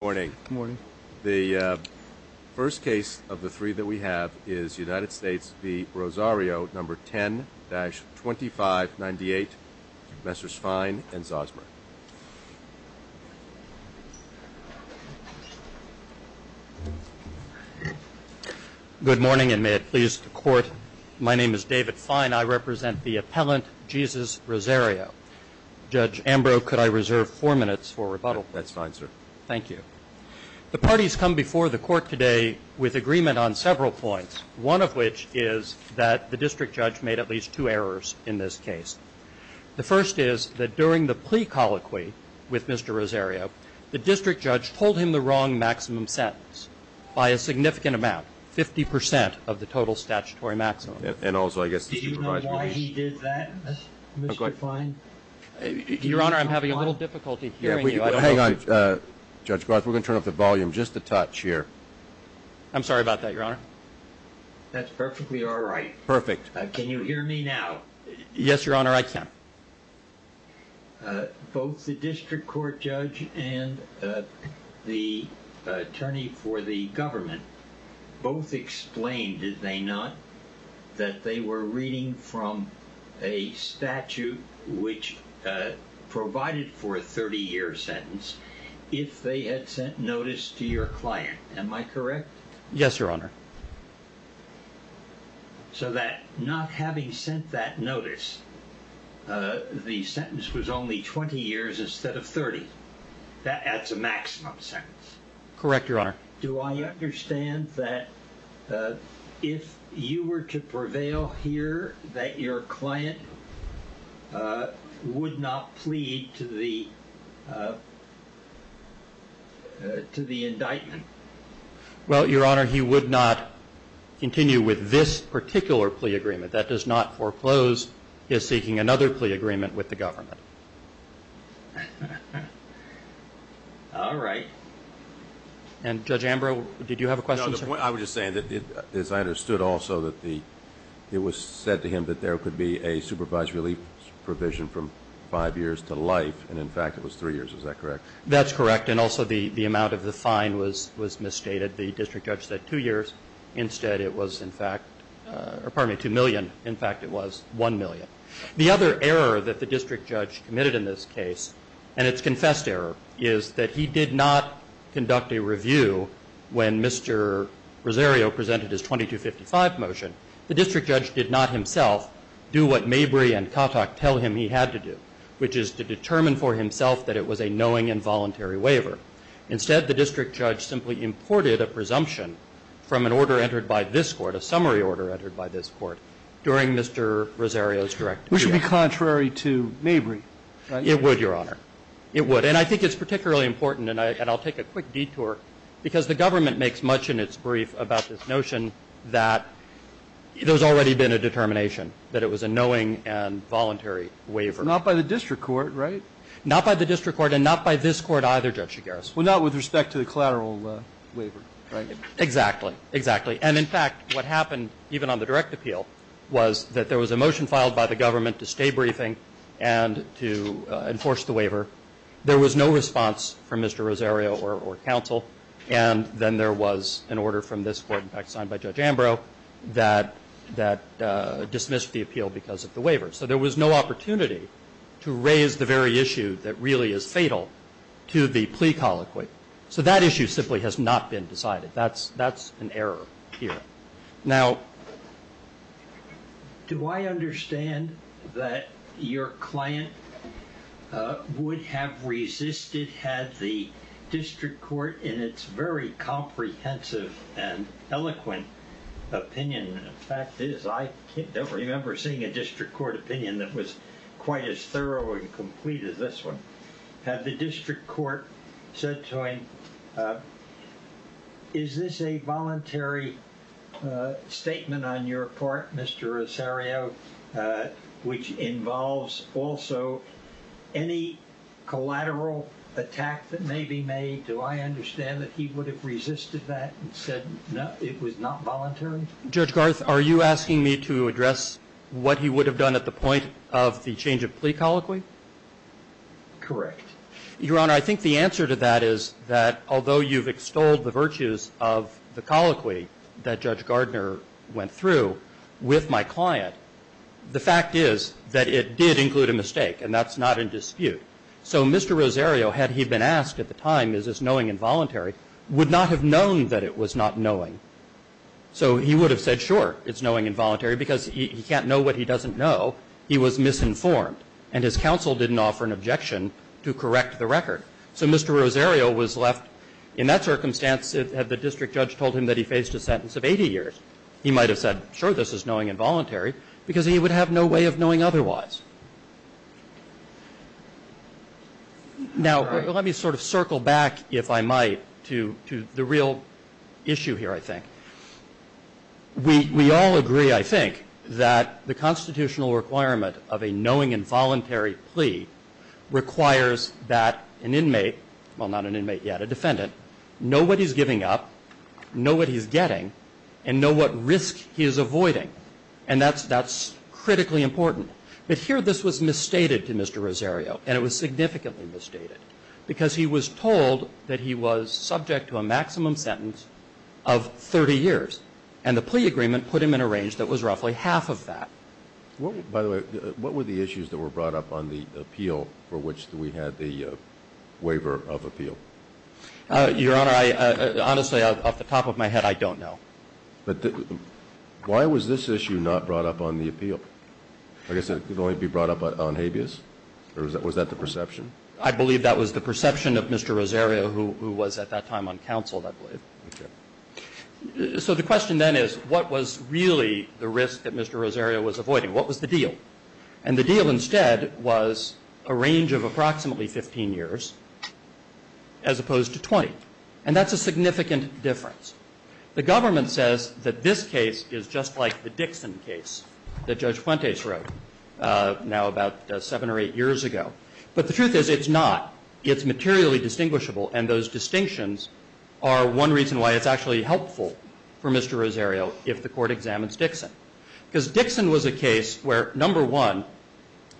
Morning. The first case of the three that we have is United States v. Rosario, number 10-2598, Messrs. Fine and Zosmer. Good morning, and may it please the Court, my name is David Fine. I represent the appellant, Jesus Rosario. Judge Ambrose, could I reserve four minutes for rebuttal? That's fine, sir. Thank you. The parties come before the Court today with agreement on several points, one of which is that the district judge made at least two errors in this case. The first is that during the plea colloquy with Mr. Rosario, the district judge told him the wrong maximum sentence by a significant amount, 50% of the total statutory maximum. Did you know why he did that, Mr. Fine? Your Honor, I'm having a little difficulty hearing you. Hang on, Judge Goss. We're going to turn up the volume just a touch here. I'm sorry about that, Your Honor. That's perfectly all right. Perfect. Can you hear me now? Yes, Your Honor, I can. Both the district court judge and the attorney for the government both explained, did they not, that they were reading from a statute which provided for a 30-year sentence if they had sent notice to your client. Am I correct? Yes, Your Honor. So that not having sent that notice, the sentence was only 20 years instead of 30. That adds a maximum sentence. Correct, Your Honor. Do I understand that if you were to prevail here, that your client would not plead to the indictment? Well, Your Honor, he would not continue with this particular plea agreement. That does not foreclose his seeking another plea agreement with the government. All right. And, Judge Ambrose, did you have a question, sir? No, the point I was just saying is I understood also that it was said to him that there could be a supervised relief provision from five years to life. And, in fact, it was three years. Is that correct? That's correct. And also the amount of the fine was misstated. The district judge said two years. Instead, it was, in fact, pardon me, 2 million. In fact, it was 1 million. The other error that the district judge committed in this case, and it's confessed error, is that he did not conduct a review when Mr. Rosario presented his 2255 motion. The district judge did not himself do what Mabry and Kotok tell him he had to do, which is to determine for himself that it was a knowing and voluntary waiver. Instead, the district judge simply imported a presumption from an order entered by this Court, a summary order entered by this Court, during Mr. Rosario's directive. Which would be contrary to Mabry, right? It would, Your Honor. It would. And I think it's particularly important, and I'll take a quick detour, because the government makes much in its brief about this notion that there's already been a determination that it was a knowing and voluntary waiver. Not by the district court, right? Not by the district court and not by this Court either, Judge Shigaris. Well, not with respect to the collateral waiver, right? Exactly. Exactly. And, in fact, what happened, even on the direct appeal, was that there was a motion filed by the government to stay briefing and to enforce the waiver. There was no response from Mr. Rosario or counsel. And then there was an order from this Court, in fact, signed by Judge Ambrose, that dismissed the appeal because of the waiver. So there was no opportunity to raise the very issue that really is fatal to the plea colloquy. So that issue simply has not been decided. That's an error here. Now, do I understand that your client would have resisted had the district court in its very comprehensive and eloquent opinion? In fact, I can't remember seeing a district court opinion that was quite as thorough and complete as this one. Had the district court said to him, is this a voluntary statement on your part, Mr. Rosario, which involves also any collateral attack that may be made? Do I understand that he would have resisted that and said it was not voluntary? Judge Garth, are you asking me to address what he would have done at the point of the change of plea colloquy? Correct. Your Honor, I think the answer to that is that although you've extolled the virtues of the colloquy that Judge Gardner went through with my client, the fact is that it did include a mistake, and that's not in dispute. So Mr. Rosario, had he been asked at the time, is this knowing involuntary, would not have known that it was not knowing. So he would have said, sure, it's knowing involuntary, because he can't know what he doesn't know. He was misinformed. And his counsel didn't offer an objection to correct the record. So Mr. Rosario was left in that circumstance had the district judge told him that he faced a sentence of 80 years. He might have said, sure, this is knowing involuntary, because he would have no way of knowing otherwise. Now, let me sort of circle back, if I might, to the real issue here, I think. We all agree, I think, that the constitutional requirement of a knowing involuntary plea requires that an inmate, well, not an inmate yet, a defendant, know what he's giving up, know what he's getting, and know what risk he is avoiding. And that's critically important. But here this was misstated to Mr. Rosario, and it was significantly misstated, because he was told that he was subject to a maximum sentence of 30 years. And the plea agreement put him in a range that was roughly half of that. By the way, what were the issues that were brought up on the appeal for which we had the waiver of appeal? Your Honor, honestly, off the top of my head, I don't know. But why was this issue not brought up on the appeal? I guess it could only be brought up on habeas, or was that the perception? I believe that was the perception of Mr. Rosario, who was at that time on counsel, I believe. So the question then is, what was really the risk that Mr. Rosario was avoiding? What was the deal? And the deal instead was a range of approximately 15 years as opposed to 20. And that's a significant difference. The government says that this case is just like the Dixon case that Judge Fuentes wrote now about seven or eight years ago. But the truth is it's not. It's materially distinguishable. And those distinctions are one reason why it's actually helpful for Mr. Rosario if the court examines Dixon. Because Dixon was a case where, number one,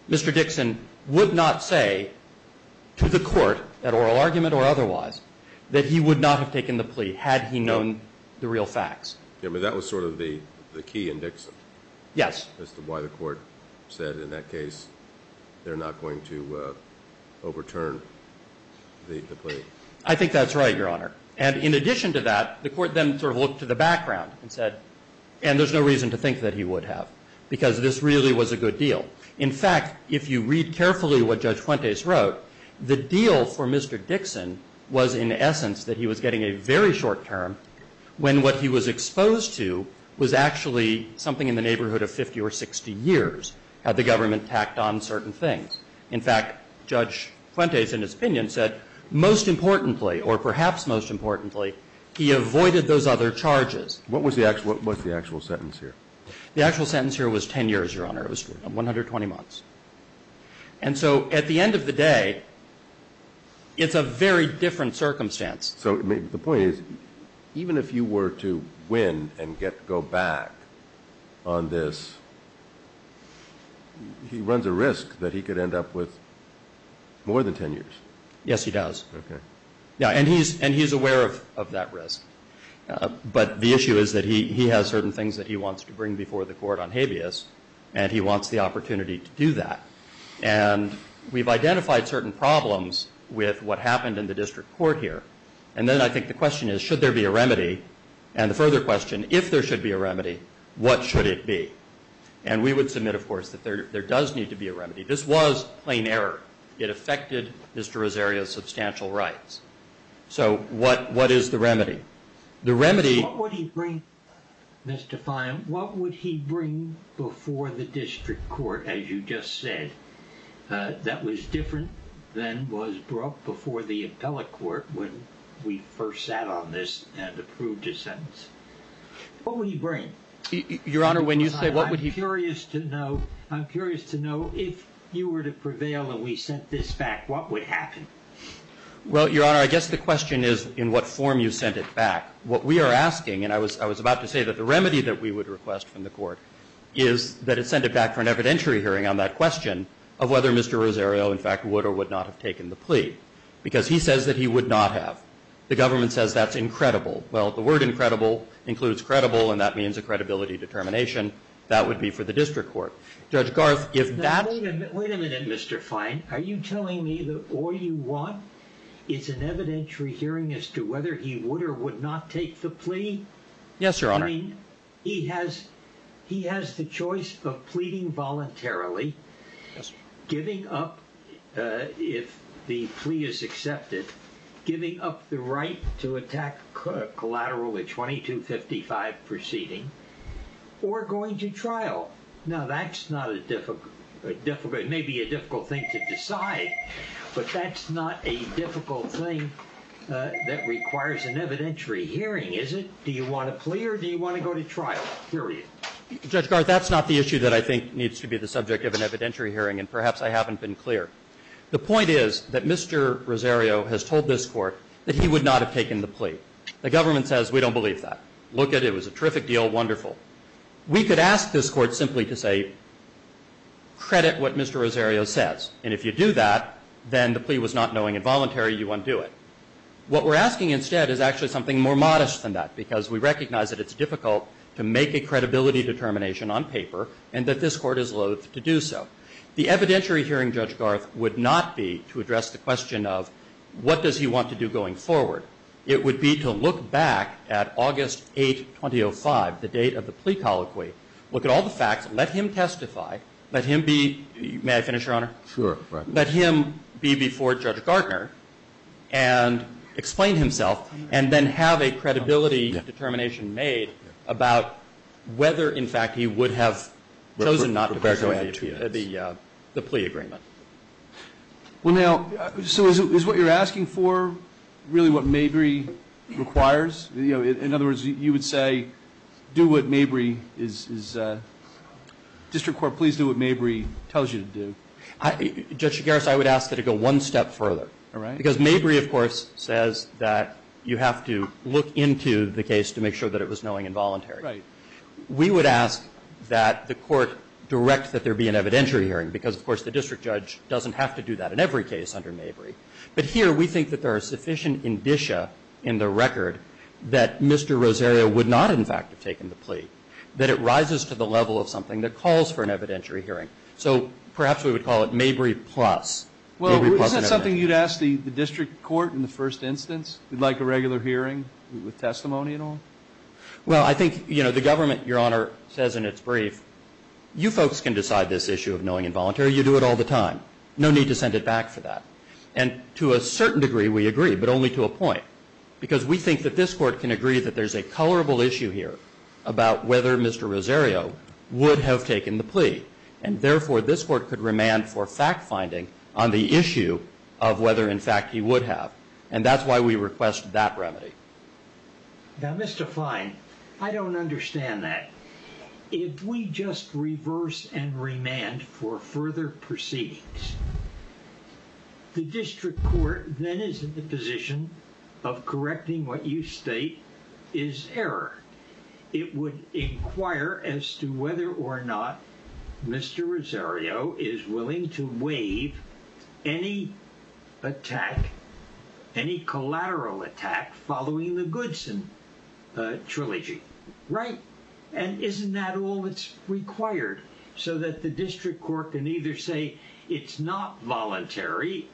Mr. Dixon would not say to the court, at oral argument or otherwise, that he would not have taken the plea had he known the real facts. Yeah, but that was sort of the key in Dixon. Yes. As to why the court said in that case they're not going to overturn the plea. I think that's right, Your Honor. And in addition to that, the court then sort of looked to the background and said, and there's no reason to think that he would have because this really was a good deal. In fact, if you read carefully what Judge Fuentes wrote, the deal for Mr. Dixon was, in essence, that he was getting a very short term when what he was exposed to was actually something in the neighborhood of 50 or 60 years had the government tacked on certain things. In fact, Judge Fuentes, in his opinion, said most importantly, or perhaps most importantly, he avoided those other charges. What was the actual sentence here? The actual sentence here was 10 years, Your Honor. It was 120 months. And so at the end of the day, it's a very different circumstance. So the point is, even if you were to win and go back on this, he runs a risk that he could end up with more than 10 years. Yes, he does. Okay. Yeah, and he's aware of that risk. But the issue is that he has certain things that he wants to bring before the court on habeas, and he wants the opportunity to do that. And we've identified certain problems with what happened in the district court here. And then I think the question is, should there be a remedy? And the further question, if there should be a remedy, what should it be? And we would submit, of course, that there does need to be a remedy. This was plain error. It affected Mr. Rosario's substantial rights. So what is the remedy? The remedy – Mr. Fyne, what would he bring before the district court, as you just said, that was different than was brought before the appellate court when we first sat on this and approved his sentence? What would he bring? Your Honor, when you say what would he bring? I'm curious to know if you were to prevail and we sent this back, what would happen? Well, Your Honor, I guess the question is in what form you sent it back. What we are asking – and I was about to say that the remedy that we would request from the court is that it's sent it back for an evidentiary hearing on that question of whether Mr. Rosario, in fact, would or would not have taken the plea because he says that he would not have. The government says that's incredible. Well, the word incredible includes credible, and that means a credibility determination. That would be for the district court. Judge Garth, if that – Wait a minute, Mr. Fyne. Are you telling me that all you want is an evidentiary hearing as to whether he would or would not take the plea? Yes, Your Honor. I mean, he has the choice of pleading voluntarily, giving up if the plea is accepted, giving up the right to attack collateral at 2255 proceeding, or going to trial. Now, that's not a difficult – it may be a difficult thing to decide, but that's not a difficult thing that requires an evidentiary hearing, is it? Do you want a plea or do you want to go to trial? Period. Judge Garth, that's not the issue that I think needs to be the subject of an evidentiary hearing, and perhaps I haven't been clear. The point is that Mr. Rosario has told this court that he would not have taken the plea. The government says we don't believe that. Look at it. It was a terrific deal, wonderful. We could ask this court simply to say credit what Mr. Rosario says, and if you do that, then the plea was not knowing involuntary, you undo it. What we're asking instead is actually something more modest than that, because we recognize that it's difficult to make a credibility determination on paper and that this court is loath to do so. The evidentiary hearing, Judge Garth, would not be to address the question of what does he want to do going forward. It would be to look back at August 8, 2005, the date of the plea colloquy, look at all the facts, let him testify, let him be – may I finish, Your Honor? Sure. Let him be before Judge Gartner and explain himself and then have a credibility determination made about whether, in fact, he would have chosen not to go to the plea agreement. Well, now, so is what you're asking for really what Mabry requires? In other words, you would say do what Mabry is – Judge Garth, I would ask that it go one step further. All right. Because Mabry, of course, says that you have to look into the case to make sure that it was knowing involuntary. Right. We would ask that the court direct that there be an evidentiary hearing because, of course, the district judge doesn't have to do that in every case under Mabry. But here we think that there are sufficient indicia in the record that Mr. Rosario would not, in fact, have taken the plea, that it rises to the level of something that calls for an evidentiary hearing. So perhaps we would call it Mabry plus. Well, isn't that something you'd ask the district court in the first instance? You'd like a regular hearing with testimony and all? Well, I think, you know, the government, Your Honor, says in its brief, you folks can decide this issue of knowing involuntary. You do it all the time. No need to send it back for that. And to a certain degree, we agree, but only to a point because we think that this court can agree that there's a colorable issue here about whether Mr. Rosario would have taken the plea. And therefore, this court could remand for fact-finding on the issue of whether, in fact, he would have. And that's why we request that remedy. Now, Mr. Fine, I don't understand that. If we just reverse and remand for further proceedings, the district court then is in the position of correcting what you state is error. It would inquire as to whether or not Mr. Rosario is willing to waive any attack, any collateral attack following the Goodson Trilogy, right? And isn't that all that's required so that the district court can either say it's not voluntary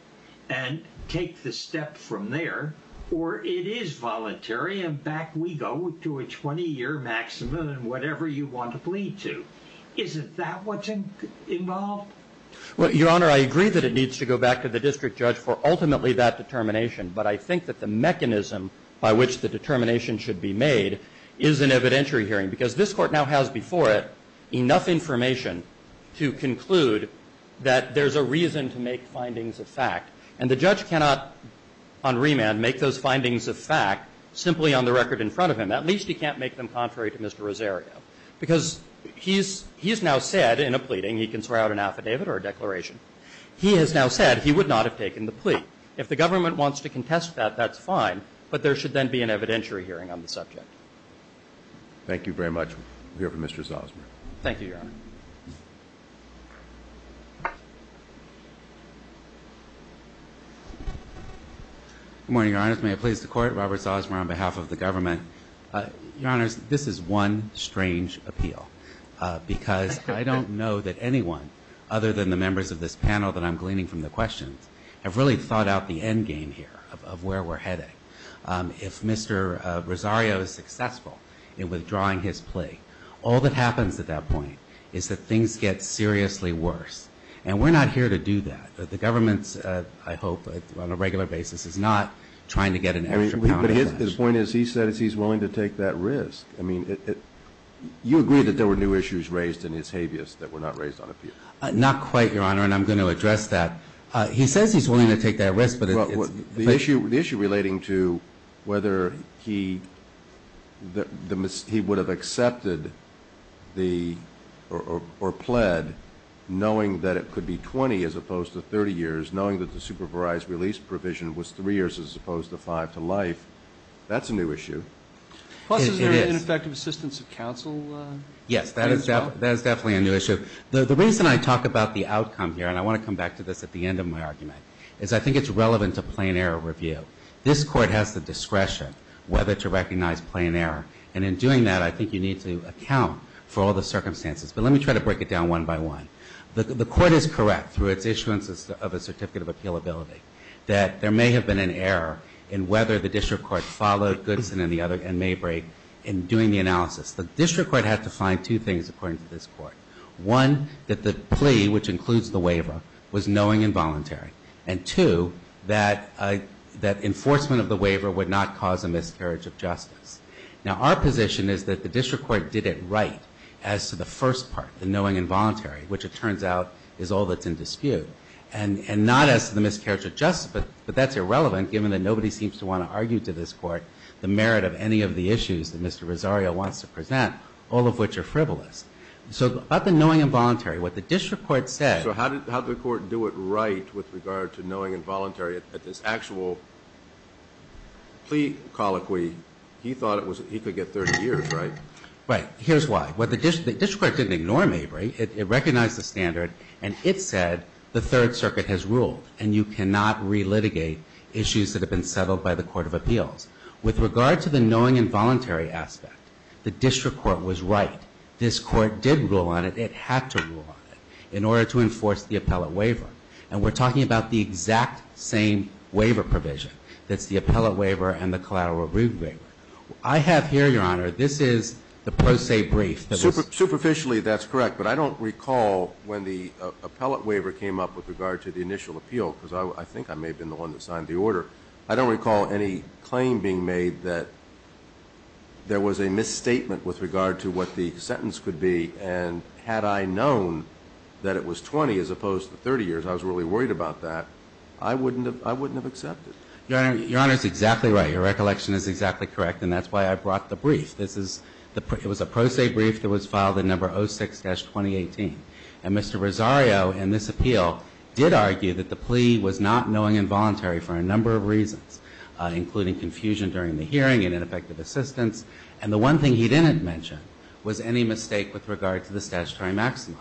and take the step from there, or it is voluntary and back we go to a 20-year maximum and whatever you want to plead to? Isn't that what's involved? Well, Your Honor, I agree that it needs to go back to the district judge for ultimately that determination, but I think that the mechanism by which the determination should be made is an evidentiary hearing because this court now has before it enough information to conclude that there's a reason to make findings of fact. And the judge cannot on remand make those findings of fact simply on the record in front of him. At least he can't make them contrary to Mr. Rosario because he has now said in a pleading, he can swear out an affidavit or a declaration, he has now said he would not have taken the plea. If the government wants to contest that, that's fine, but there should then be an evidentiary hearing on the subject. We'll hear from Mr. Salzburg. Thank you, Your Honor. Good morning, Your Honor. May it please the Court. Robert Salzburg on behalf of the government. Your Honor, this is one strange appeal because I don't know that anyone other than the members of this panel that I'm gleaning from the questions have really thought out the end game here of where we're heading. If Mr. Rosario is successful in withdrawing his plea, all that happens at that point is that the government is that things get seriously worse. And we're not here to do that. The government, I hope, on a regular basis, is not trying to get an extra pound of cash. But his point is he said he's willing to take that risk. I mean, you agree that there were new issues raised in his habeas that were not raised on appeal. Not quite, Your Honor, and I'm going to address that. He says he's willing to take that risk, but it's... The issue relating to whether he would have accepted or pled knowing that it could be 20 as opposed to 30 years, knowing that the supervised release provision was 3 years as opposed to 5 to life, that's a new issue. Plus, is there an ineffective assistance of counsel? Yes, that is definitely a new issue. The reason I talk about the outcome here, and I want to come back to this at the end of my argument, is I think it's relevant to plain error review. This court has the discretion whether to recognize plain error. And in doing that, I think you need to account for all the circumstances. But let me try to break it down one by one. The court is correct, through its issuances of a certificate of appealability, that there may have been an error in whether the district court followed Goodson and Maybrake in doing the analysis. The district court had to find two things, according to this court. One, that the plea, which includes the waiver, was knowing and voluntary. And two, that enforcement of the waiver would not cause a miscarriage of justice. Now, our position is that the district court did it right, as to the first part, the knowing and voluntary, which it turns out is all that's in dispute. And not as to the miscarriage of justice, but that's irrelevant, given that nobody seems to want to argue to this court the merit of any of the issues that Mr. Rosario wants to present, all of which are frivolous. So about the knowing and voluntary, what the district court said... So how did the court do it right with regard to knowing and voluntary at this actual plea colloquy? He thought he could get 30 years, right? Right. Here's why. The district court didn't ignore Maybrake. It recognized the standard, and it said the Third Circuit has ruled, and you cannot relitigate issues that have been settled by the court of appeals. With regard to the knowing and voluntary aspect, the district court was right. This court did rule on it. It had to rule on it in order to enforce the appellate waiver. And we're talking about the exact same waiver provision. That's the appellate waiver and the collateral review waiver. I have here, Your Honor, this is the pro se brief. Superficially, that's correct, but I don't recall when the appellate waiver came up with regard to the initial appeal, because I think I may have been the one that signed the order. I don't recall any claim being made that there was a misstatement with regard to what the sentence could be, and had I known that it was 20 as opposed to 30 years, I was really worried about that. I wouldn't have accepted. Your Honor, Your Honor is exactly right. Your recollection is exactly correct, and that's why I brought the brief. It was a pro se brief that was filed in number 06-2018. And Mr. Rosario, in this appeal, did argue that the plea was not knowing and voluntary for a number of reasons, including confusion during the hearing and ineffective assistance. And the one thing he didn't mention was any mistake with regard to the statutory maxima.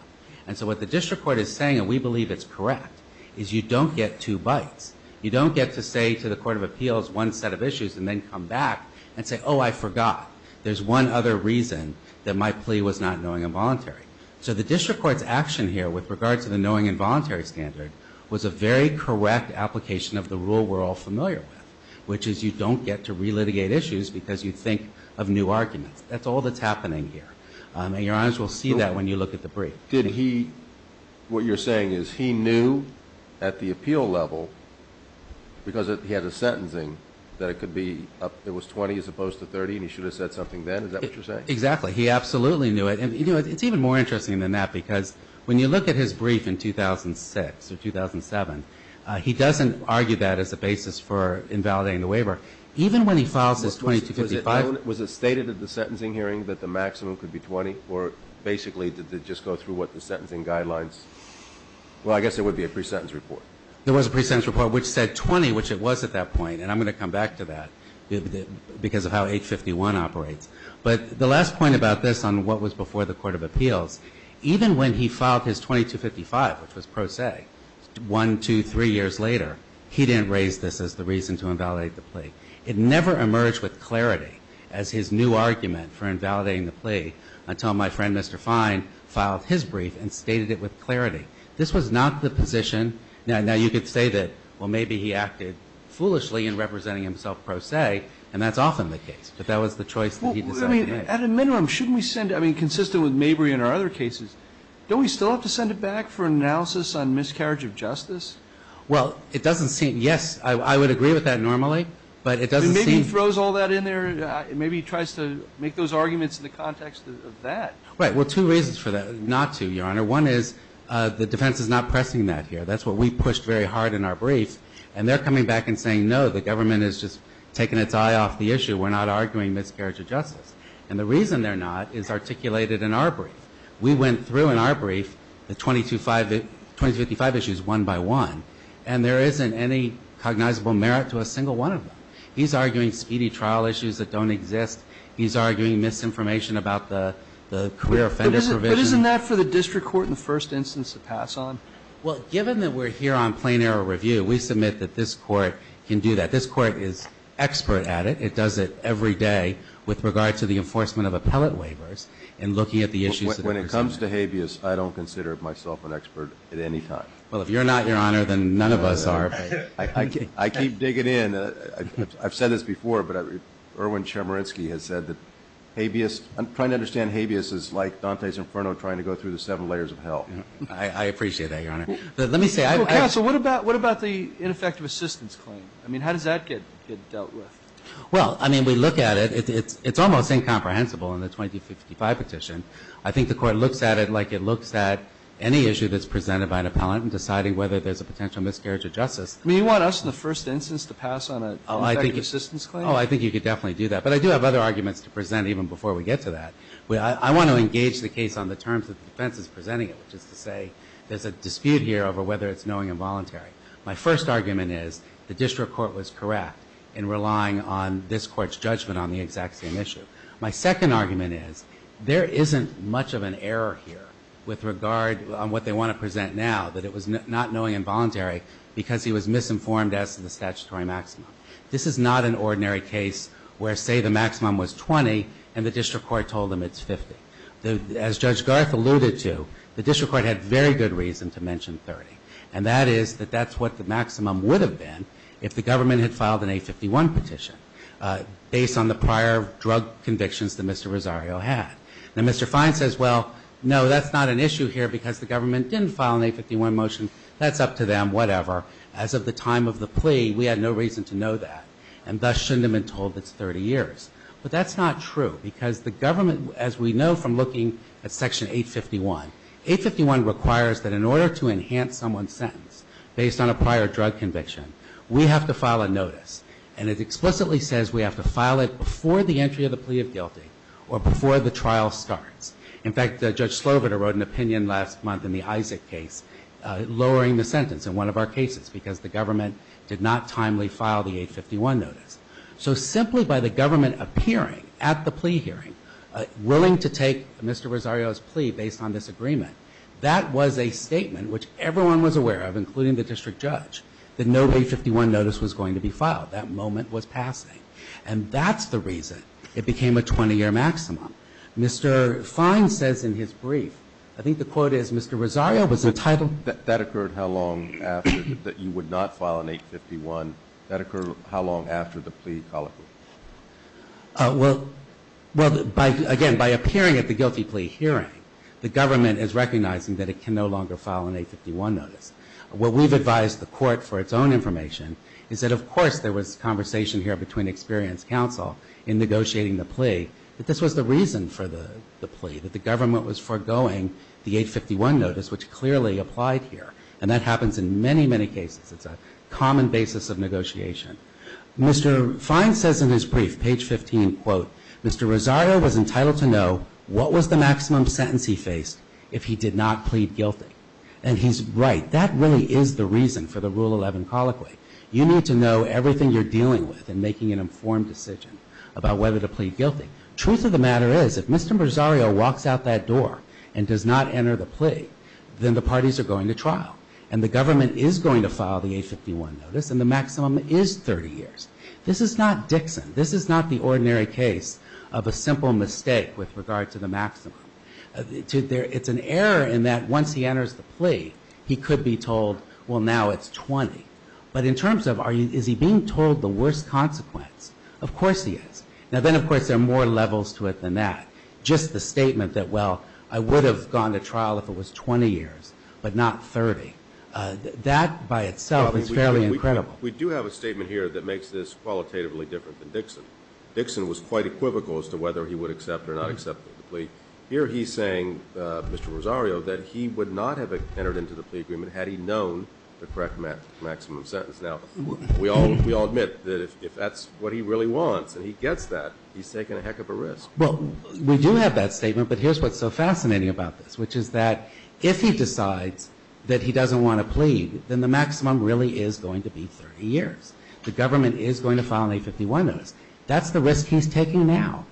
And so what the district court is saying, and we believe it's correct, is you don't get two bites. You don't get to say to the court of appeals one set of issues and then come back and say, oh, I forgot. There's one other reason that my plea was not knowing and voluntary. So the district court's action here with regard to the knowing and voluntary standard was a very correct application of the rule we're all familiar with, which is you don't get to relitigate issues because you think of new arguments. That's all that's happening here. And Your Honors will see that when you look at the brief. Did he, what you're saying is he knew at the appeal level because he had a sentencing that it could be, it was 20 as opposed to 30 and he should have said something then? Is that what you're saying? Exactly. He absolutely knew it. And it's even more interesting than that because when you look at his brief in filing the waiver, even when he files his 2255. Was it stated at the sentencing hearing that the maximum could be 20 or basically did they just go through what the sentencing guidelines, well, I guess it would be a pre-sentence report. There was a pre-sentence report which said 20, which it was at that point. And I'm going to come back to that because of how 851 operates. But the last point about this on what was before the court of appeals, even when he filed his 2255, which was pro se, one, two, three years later, he didn't raise this as the reason to invalidate the plea. It never emerged with clarity as his new argument for invalidating the plea until my friend Mr. Fine filed his brief and stated it with clarity. This was not the position. Now, you could say that, well, maybe he acted foolishly in representing himself pro se, and that's often the case. But that was the choice that he decided to make. Well, I mean, at a minimum, shouldn't we send, I mean, consistent with Mabry and our other cases, don't we still have to send it back for analysis on miscarriage of justice? Well, it doesn't seem, yes, I would agree with that normally. But it doesn't seem. Maybe he throws all that in there. Maybe he tries to make those arguments in the context of that. Right. Well, two reasons for that. Not two, Your Honor. One is the defense is not pressing that here. That's what we pushed very hard in our brief. And they're coming back and saying, no, the government is just taking its eye off the issue. We're not arguing miscarriage of justice. And the reason they're not is articulated in our brief. We went through in our brief the 2255 issues one by one. And there isn't any cognizable merit to a single one of them. He's arguing speedy trial issues that don't exist. He's arguing misinformation about the career offenders provision. But isn't that for the district court in the first instance to pass on? Well, given that we're here on plain error review, we submit that this court can do that. This court is expert at it. It does it every day with regard to the enforcement of appellate waivers and looking at the issues. When it comes to habeas, I don't consider myself an expert at any time. Well, if you're not, Your Honor, then none of us are. I keep digging in. I've said this before, but Erwin Chemerinsky has said that habeas, I'm trying to understand habeas is like Dante's Inferno trying to go through the seven layers of hell. I appreciate that, Your Honor. Well, counsel, what about the ineffective assistance claim? I mean, how does that get dealt with? Well, I mean, we look at it. It's almost incomprehensible in the 2055 petition. I think the Court looks at it like it looks at any issue that's presented by an appellant in deciding whether there's a potential miscarriage of justice. I mean, you want us in the first instance to pass on an ineffective assistance claim? Oh, I think you could definitely do that. But I do have other arguments to present even before we get to that. I want to engage the case on the terms that the defense is presenting it, which is to say there's a dispute here over whether it's knowing and voluntary. My first argument is the district court was correct in relying on this Court's position on the exact same issue. My second argument is there isn't much of an error here with regard on what they want to present now, that it was not knowing and voluntary because he was misinformed as to the statutory maximum. This is not an ordinary case where, say, the maximum was 20 and the district court told him it's 50. As Judge Garth alluded to, the district court had very good reason to mention 30, and that is that that's what the maximum would have been if the government had filed an 851 petition based on the prior drug convictions that Mr. Rosario had. Now, Mr. Fine says, well, no, that's not an issue here because the government didn't file an 851 motion. That's up to them, whatever. As of the time of the plea, we had no reason to know that, and thus shouldn't have been told it's 30 years. But that's not true because the government, as we know from looking at Section 851, 851 requires that in order to enhance someone's sentence based on a prior drug conviction, we have to file a notice. And it explicitly says we have to file it before the entry of the plea of guilty or before the trial starts. In fact, Judge Sloboda wrote an opinion last month in the Isaac case lowering the sentence in one of our cases because the government did not timely file the 851 notice. So simply by the government appearing at the plea hearing, willing to take Mr. Rosario's plea based on this agreement, that was a statement which everyone was making, that no 851 notice was going to be filed. That moment was passing. And that's the reason it became a 20-year maximum. Mr. Fine says in his brief, I think the quote is Mr. Rosario was entitled to. That occurred how long after, that you would not file an 851, that occurred how long after the plea colloquy? Well, again, by appearing at the guilty plea hearing, the government is recognizing that it can no longer file an 851 notice. What we've advised the court for its own information is that of course there was conversation here between experienced counsel in negotiating the plea, that this was the reason for the plea, that the government was foregoing the 851 notice, which clearly applied here. And that happens in many, many cases. It's a common basis of negotiation. Mr. Fine says in his brief, page 15, quote, Mr. Rosario was entitled to know what was the maximum sentence he faced if he did not plead guilty. And he's right. That really is the reason for the Rule 11 colloquy. You need to know everything you're dealing with in making an informed decision about whether to plead guilty. Truth of the matter is, if Mr. Rosario walks out that door and does not enter the plea, then the parties are going to trial. And the government is going to file the 851 notice, and the maximum is 30 years. This is not Dixon. This is not the ordinary case of a simple mistake with regard to the maximum. It's an error in that once he enters the plea, he could be told, well, now it's 20. But in terms of, is he being told the worst consequence? Of course he is. Now, then, of course, there are more levels to it than that. Just the statement that, well, I would have gone to trial if it was 20 years, but not 30, that by itself is fairly incredible. We do have a statement here that makes this qualitatively different than Dixon. Dixon was quite equivocal as to whether he would accept or not accept the plea. Here he's saying, Mr. Rosario, that he would not have entered into the plea agreement had he known the correct maximum sentence. Now, we all admit that if that's what he really wants and he gets that, he's taking a heck of a risk. Well, we do have that statement, but here's what's so fascinating about this, which is that if he decides that he doesn't want to plead, then the maximum really is going to be 30 years. The government is going to file an 851 notice. That's the risk he's taking now.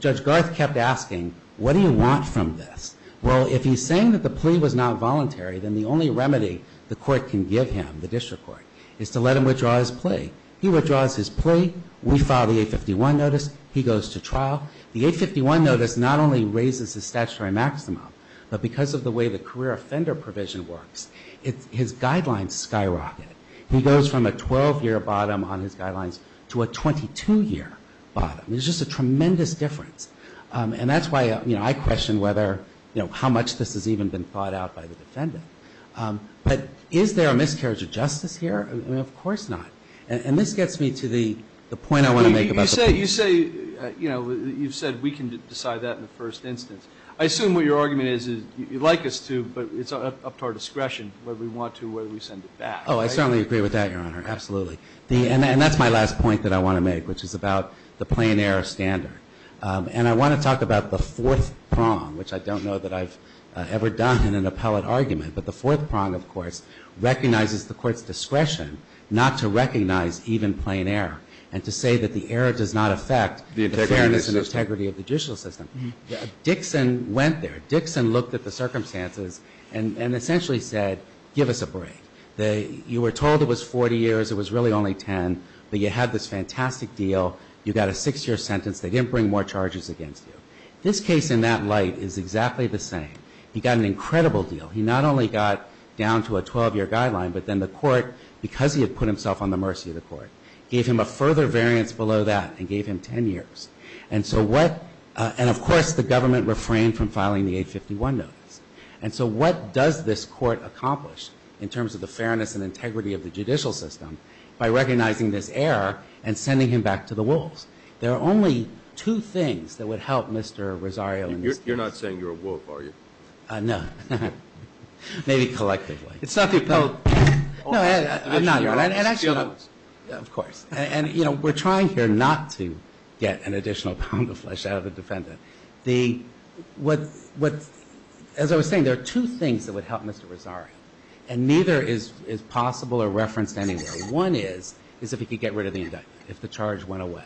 Judge Garth kept asking, what do you want from this? Well, if he's saying that the plea was not voluntary, then the only remedy the court can give him, the district court, is to let him withdraw his plea. He withdraws his plea. We file the 851 notice. He goes to trial. The 851 notice not only raises the statutory maximum, but because of the way the career offender provision works, his guidelines skyrocket. He goes from a 12-year bottom on his guidelines to a 22-year bottom. There's just a tremendous difference. And that's why, you know, I question whether, you know, how much this has even been thought out by the defendant. But is there a miscarriage of justice here? I mean, of course not. And this gets me to the point I want to make about the plea. You say, you know, you've said we can decide that in the first instance. I assume what your argument is is you'd like us to, but it's up to our discretion whether we want to or whether we send it back, right? Oh, I certainly agree with that, Your Honor, absolutely. And that's my last point that I want to make, which is about the plain error standard. And I want to talk about the fourth prong, which I don't know that I've ever done in an appellate argument. But the fourth prong, of course, recognizes the court's discretion not to recognize even plain error and to say that the error does not affect the fairness and integrity of the judicial system. Dixon went there. Dixon looked at the circumstances and essentially said, give us a break. You were told it was 40 years. It was really only 10. But you had this fantastic deal. You got a six-year sentence. They didn't bring more charges against you. This case, in that light, is exactly the same. He got an incredible deal. He not only got down to a 12-year guideline, but then the court, because he had put himself on the mercy of the court, gave him a further variance below that and gave him 10 years. And so what – and, of course, the government refrained from filing the 851 notice. And so what does this court accomplish in terms of the fairness and integrity of the judicial system by recognizing this error and sending him back to the wolves? There are only two things that would help Mr. Rosario in this case. You're not saying you're a wolf, are you? No. Maybe collectively. It's not the appellate – No, I'm not. Of course. out of the defendant. As I was saying, there are two things that would help Mr. Rosario, and neither is possible or referenced anywhere. One is if he could get rid of the indictment, if the charge went away.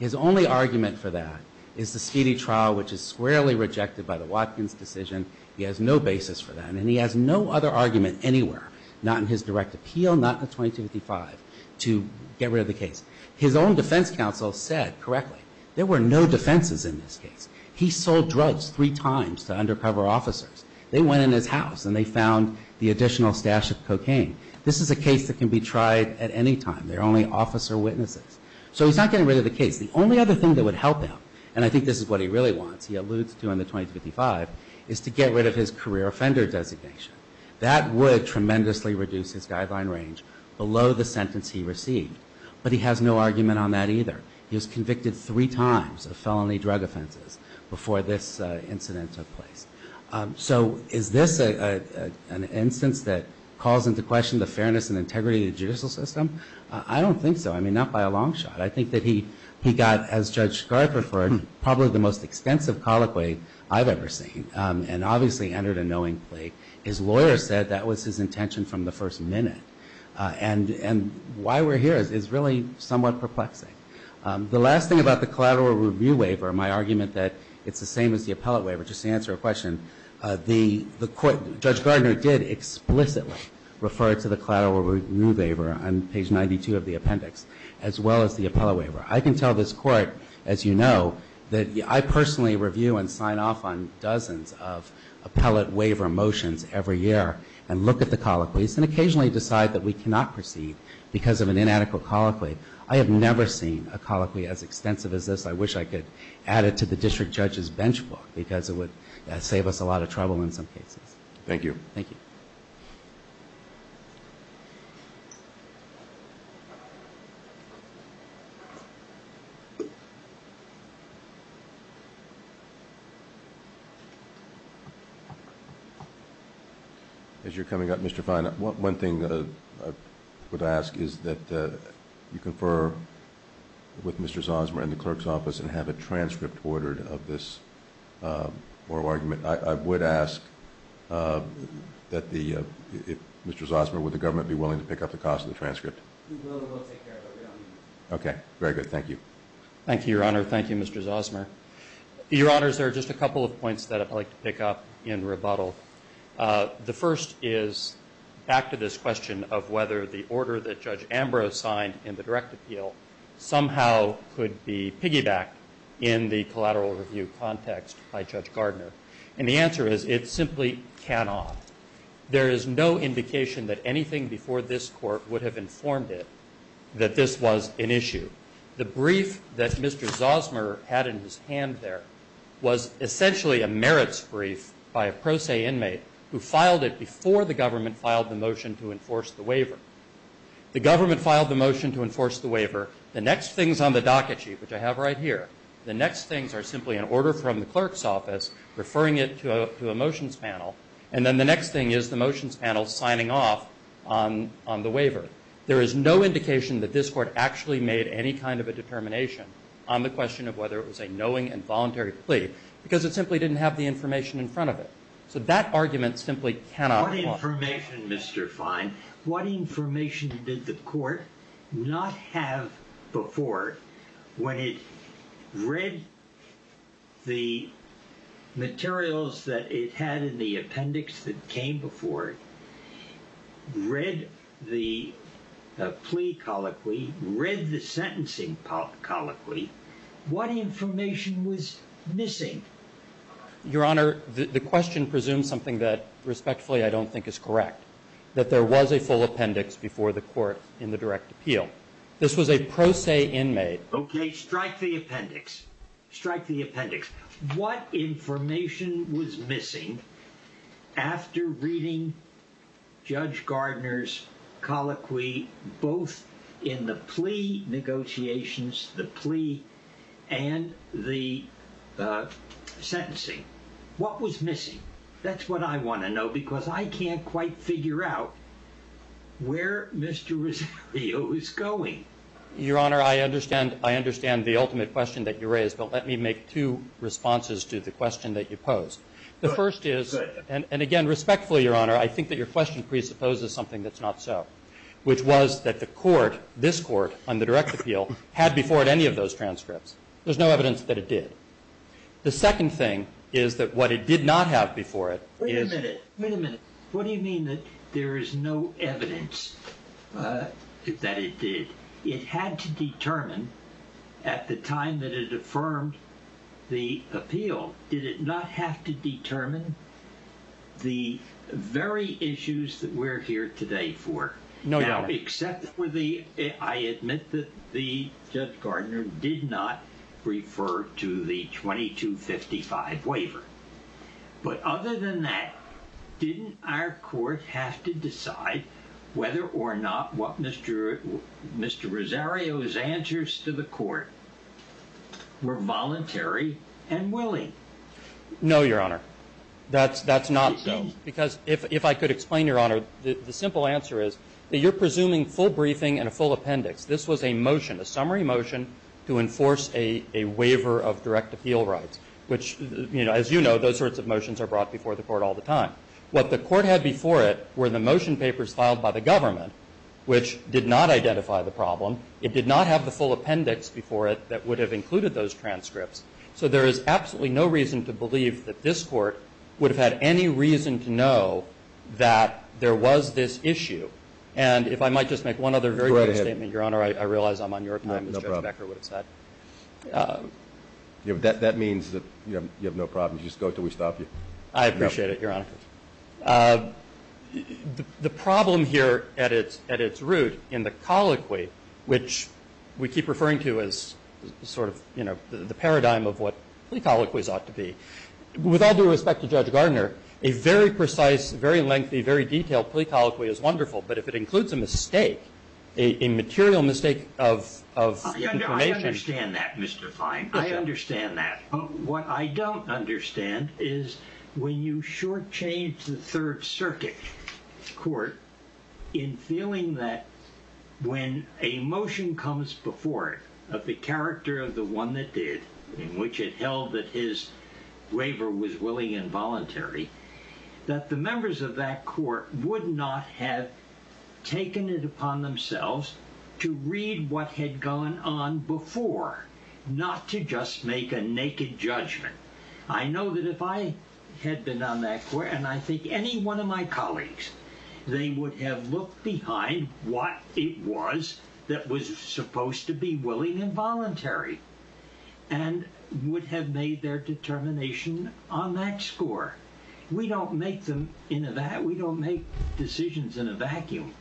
His only argument for that is the speedy trial, which is squarely rejected by the Watkins decision. He has no basis for that. And he has no other argument anywhere, not in his direct appeal, not in 2255, to get rid of the case. His own defense counsel said correctly there were no defenses in this case. He sold drugs three times to undercover officers. They went in his house and they found the additional stash of cocaine. This is a case that can be tried at any time. There are only officer witnesses. So he's not getting rid of the case. The only other thing that would help him, and I think this is what he really wants, he alludes to in the 2255, is to get rid of his career offender designation. That would tremendously reduce his guideline range below the sentence he received. But he has no argument on that either. He was convicted three times of felony drug offenses before this incident took place. So is this an instance that calls into question the fairness and integrity of the judicial system? I don't think so. I mean, not by a long shot. I think that he got, as Judge Garth referred, probably the most extensive colloquy I've ever seen, and obviously entered a knowing plea. His lawyer said that was his intention from the first minute. And why we're here is really somewhat perplexing. The last thing about the collateral review waiver, my argument that it's the same as the appellate waiver, just to answer a question, the court, Judge Gardner did explicitly refer to the collateral review waiver on page 92 of the appendix, as well as the appellate waiver. I can tell this court, as you know, that I personally review and sign off on dozens of appellate waiver motions every year and look at the colloquies and occasionally decide that we cannot proceed because of an inadequate colloquy. I have never seen a colloquy as extensive as this. I wish I could add it to the district judge's bench book because it would save us a lot of trouble in some cases. Thank you. Thank you. As you're coming up, Mr. Fine, one thing I would ask is that you confer with Mr. Zosmer and the clerk's office and have a transcript ordered of this oral argument. I would ask that Mr. Zosmer, would the government be willing to pick up the cost of the transcript? We will. We'll take care of it. Okay. Very good. Thank you. Thank you, Your Honor. Thank you, Mr. Zosmer. Your Honors, there are just a couple of points that I'd like to pick up in rebuttal. The first is back to this question of whether the order that Judge Ambrose signed in the direct appeal somehow could be piggybacked in the collateral review context by Judge Gardner. And the answer is it simply cannot. There is no indication that anything before this court would have informed it that this was an issue. The brief that Mr. Zosmer had in his hand there was essentially a merits brief by a pro se inmate who filed it before the government filed the motion to enforce the waiver. The government filed the motion to enforce the waiver. The next things on the docket sheet, which I have right here, the next things are simply an order from the clerk's office referring it to a motions panel. And then the next thing is the motions panel signing off on the waiver. There is no indication that this court actually made any kind of a determination on the question of whether it was a knowing and voluntary plea because it simply didn't have the information in front of it. So that argument simply cannot. What information, Mr. Fine? What information did the court not have before when it read the materials that it had in the appendix that came before it, read the plea colloquy, read the sentencing colloquy, what information was missing? Your Honor, the question presumes something that respectfully I don't think is correct. That there was a full appendix before the court in the direct appeal. This was a pro se inmate. Okay, strike the appendix. Strike the appendix. What information was missing after reading Judge Gardner's colloquy both in the plea negotiations, the plea and the sentencing? What was missing? That's what I want to know because I can't quite figure out where Mr. Rosario is going. Your Honor, I understand the ultimate question that you raised, but let me make two responses to the question that you posed. The first is, and again, respectfully, Your Honor, I think that your question presupposes something that's not so, which was that the court, this court on the direct appeal, had before it any of those transcripts. There's no evidence that it did. The second thing is that what it did not have before it is- Wait a minute. Wait a minute. What do you mean that there is no evidence that it did? It had to determine at the time that it affirmed the appeal, did it not have to determine the very issues that we're here today for? No, Your Honor. I admit that the Judge Gardner did not refer to the 2255 waiver. But other than that, didn't our court have to decide whether or not what Mr. Rosario's answers to the court were voluntary and willing? No, Your Honor. That's not because if I could explain, Your Honor, the simple answer is that we're presuming full briefing and a full appendix. This was a motion, a summary motion, to enforce a waiver of direct appeal rights, which, as you know, those sorts of motions are brought before the court all the time. What the court had before it were the motion papers filed by the government, which did not identify the problem. It did not have the full appendix before it that would have included those transcripts. So there is absolutely no reason to believe that this court would have had any reason to know that there was this issue. And if I might just make one other very brief statement, Your Honor, I realize I'm on your time, as Judge Becker would have said. No problem. That means that you have no problem. Just go until we stop you. I appreciate it, Your Honor. The problem here at its root in the colloquy, which we keep referring to as sort of the paradigm of what plea colloquies ought to be, with all due respect to Judge Gardner, a very precise, very lengthy, very detailed plea colloquy is wonderful. But if it includes a mistake, a material mistake of information. I understand that, Mr. Fine. I understand that. What I don't understand is when you shortchange the Third Circuit court in feeling that when a motion comes before it of the character of the one that did, in which it held that his waiver was willing and voluntary, that the members of that court would not have taken it upon themselves to read what had gone on before, not to just make a naked judgment. I know that if I had been on that court, and I think any one of my colleagues, they would have looked behind what it was that was supposed to be willing and voluntary and would have made their determination on that score. We don't make decisions in a vacuum.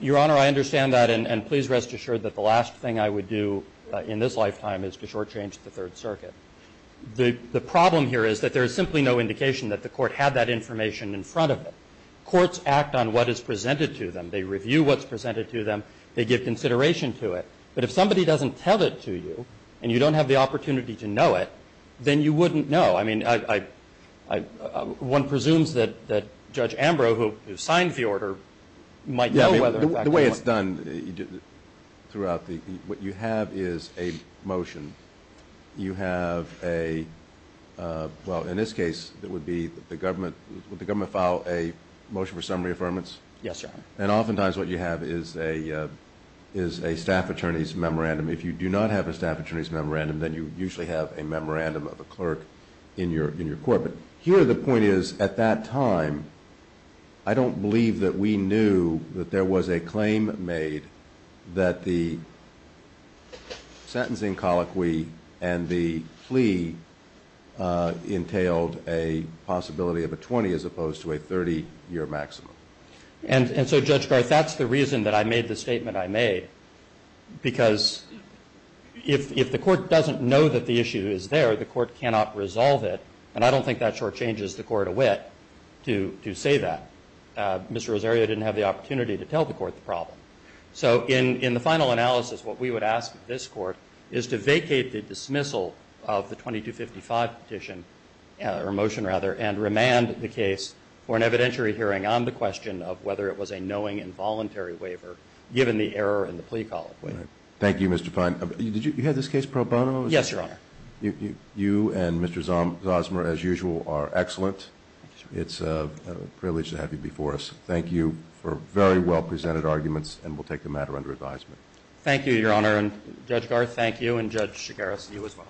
Your Honor, I understand that, and please rest assured that the last thing I would do in this lifetime is to shortchange the Third Circuit. The problem here is that there is simply no indication that the court had that information in front of it. Courts act on what is presented to them. They review what's presented to them. They give consideration to it. But if somebody doesn't tell it to you, and you don't have the opportunity to know it, then you wouldn't know. I mean, one presumes that Judge Ambrose, who signed the order, might know whether in fact it was. The way it's done throughout, what you have is a motion. You have a, well, in this case it would be the government, would the government file a motion for summary affirmance? Yes, Your Honor. And oftentimes what you have is a staff attorney's memorandum. If you do not have a staff attorney's memorandum, then you usually have a memorandum of a clerk in your court. But here the point is at that time I don't believe that we knew that there was a claim made that the sentencing colloquy and the plea entailed a possibility of a 20 as opposed to a 30-year maximum. And so, Judge Garth, that's the reason that I made the statement I made, because if the court doesn't know that the issue is there, the court cannot resolve it. And I don't think that shortchanges the court of wit to say that. Mr. Rosario didn't have the opportunity to tell the court the problem. So in the final analysis what we would ask of this court is to vacate the dismissal of the 2255 petition, or motion rather, and remand the case for an evidentiary hearing on the question of whether it was a knowing involuntary waiver given the error in the plea colloquy. Thank you, Mr. Fein. Did you have this case pro bono? Yes, Your Honor. You and Mr. Zosmer, as usual, are excellent. It's a privilege to have you before us. Thank you for very well-presented arguments, and we'll take the matter under advisement. Thank you, Your Honor. And, Judge Garth, thank you. And, Judge Shigaris, you as well.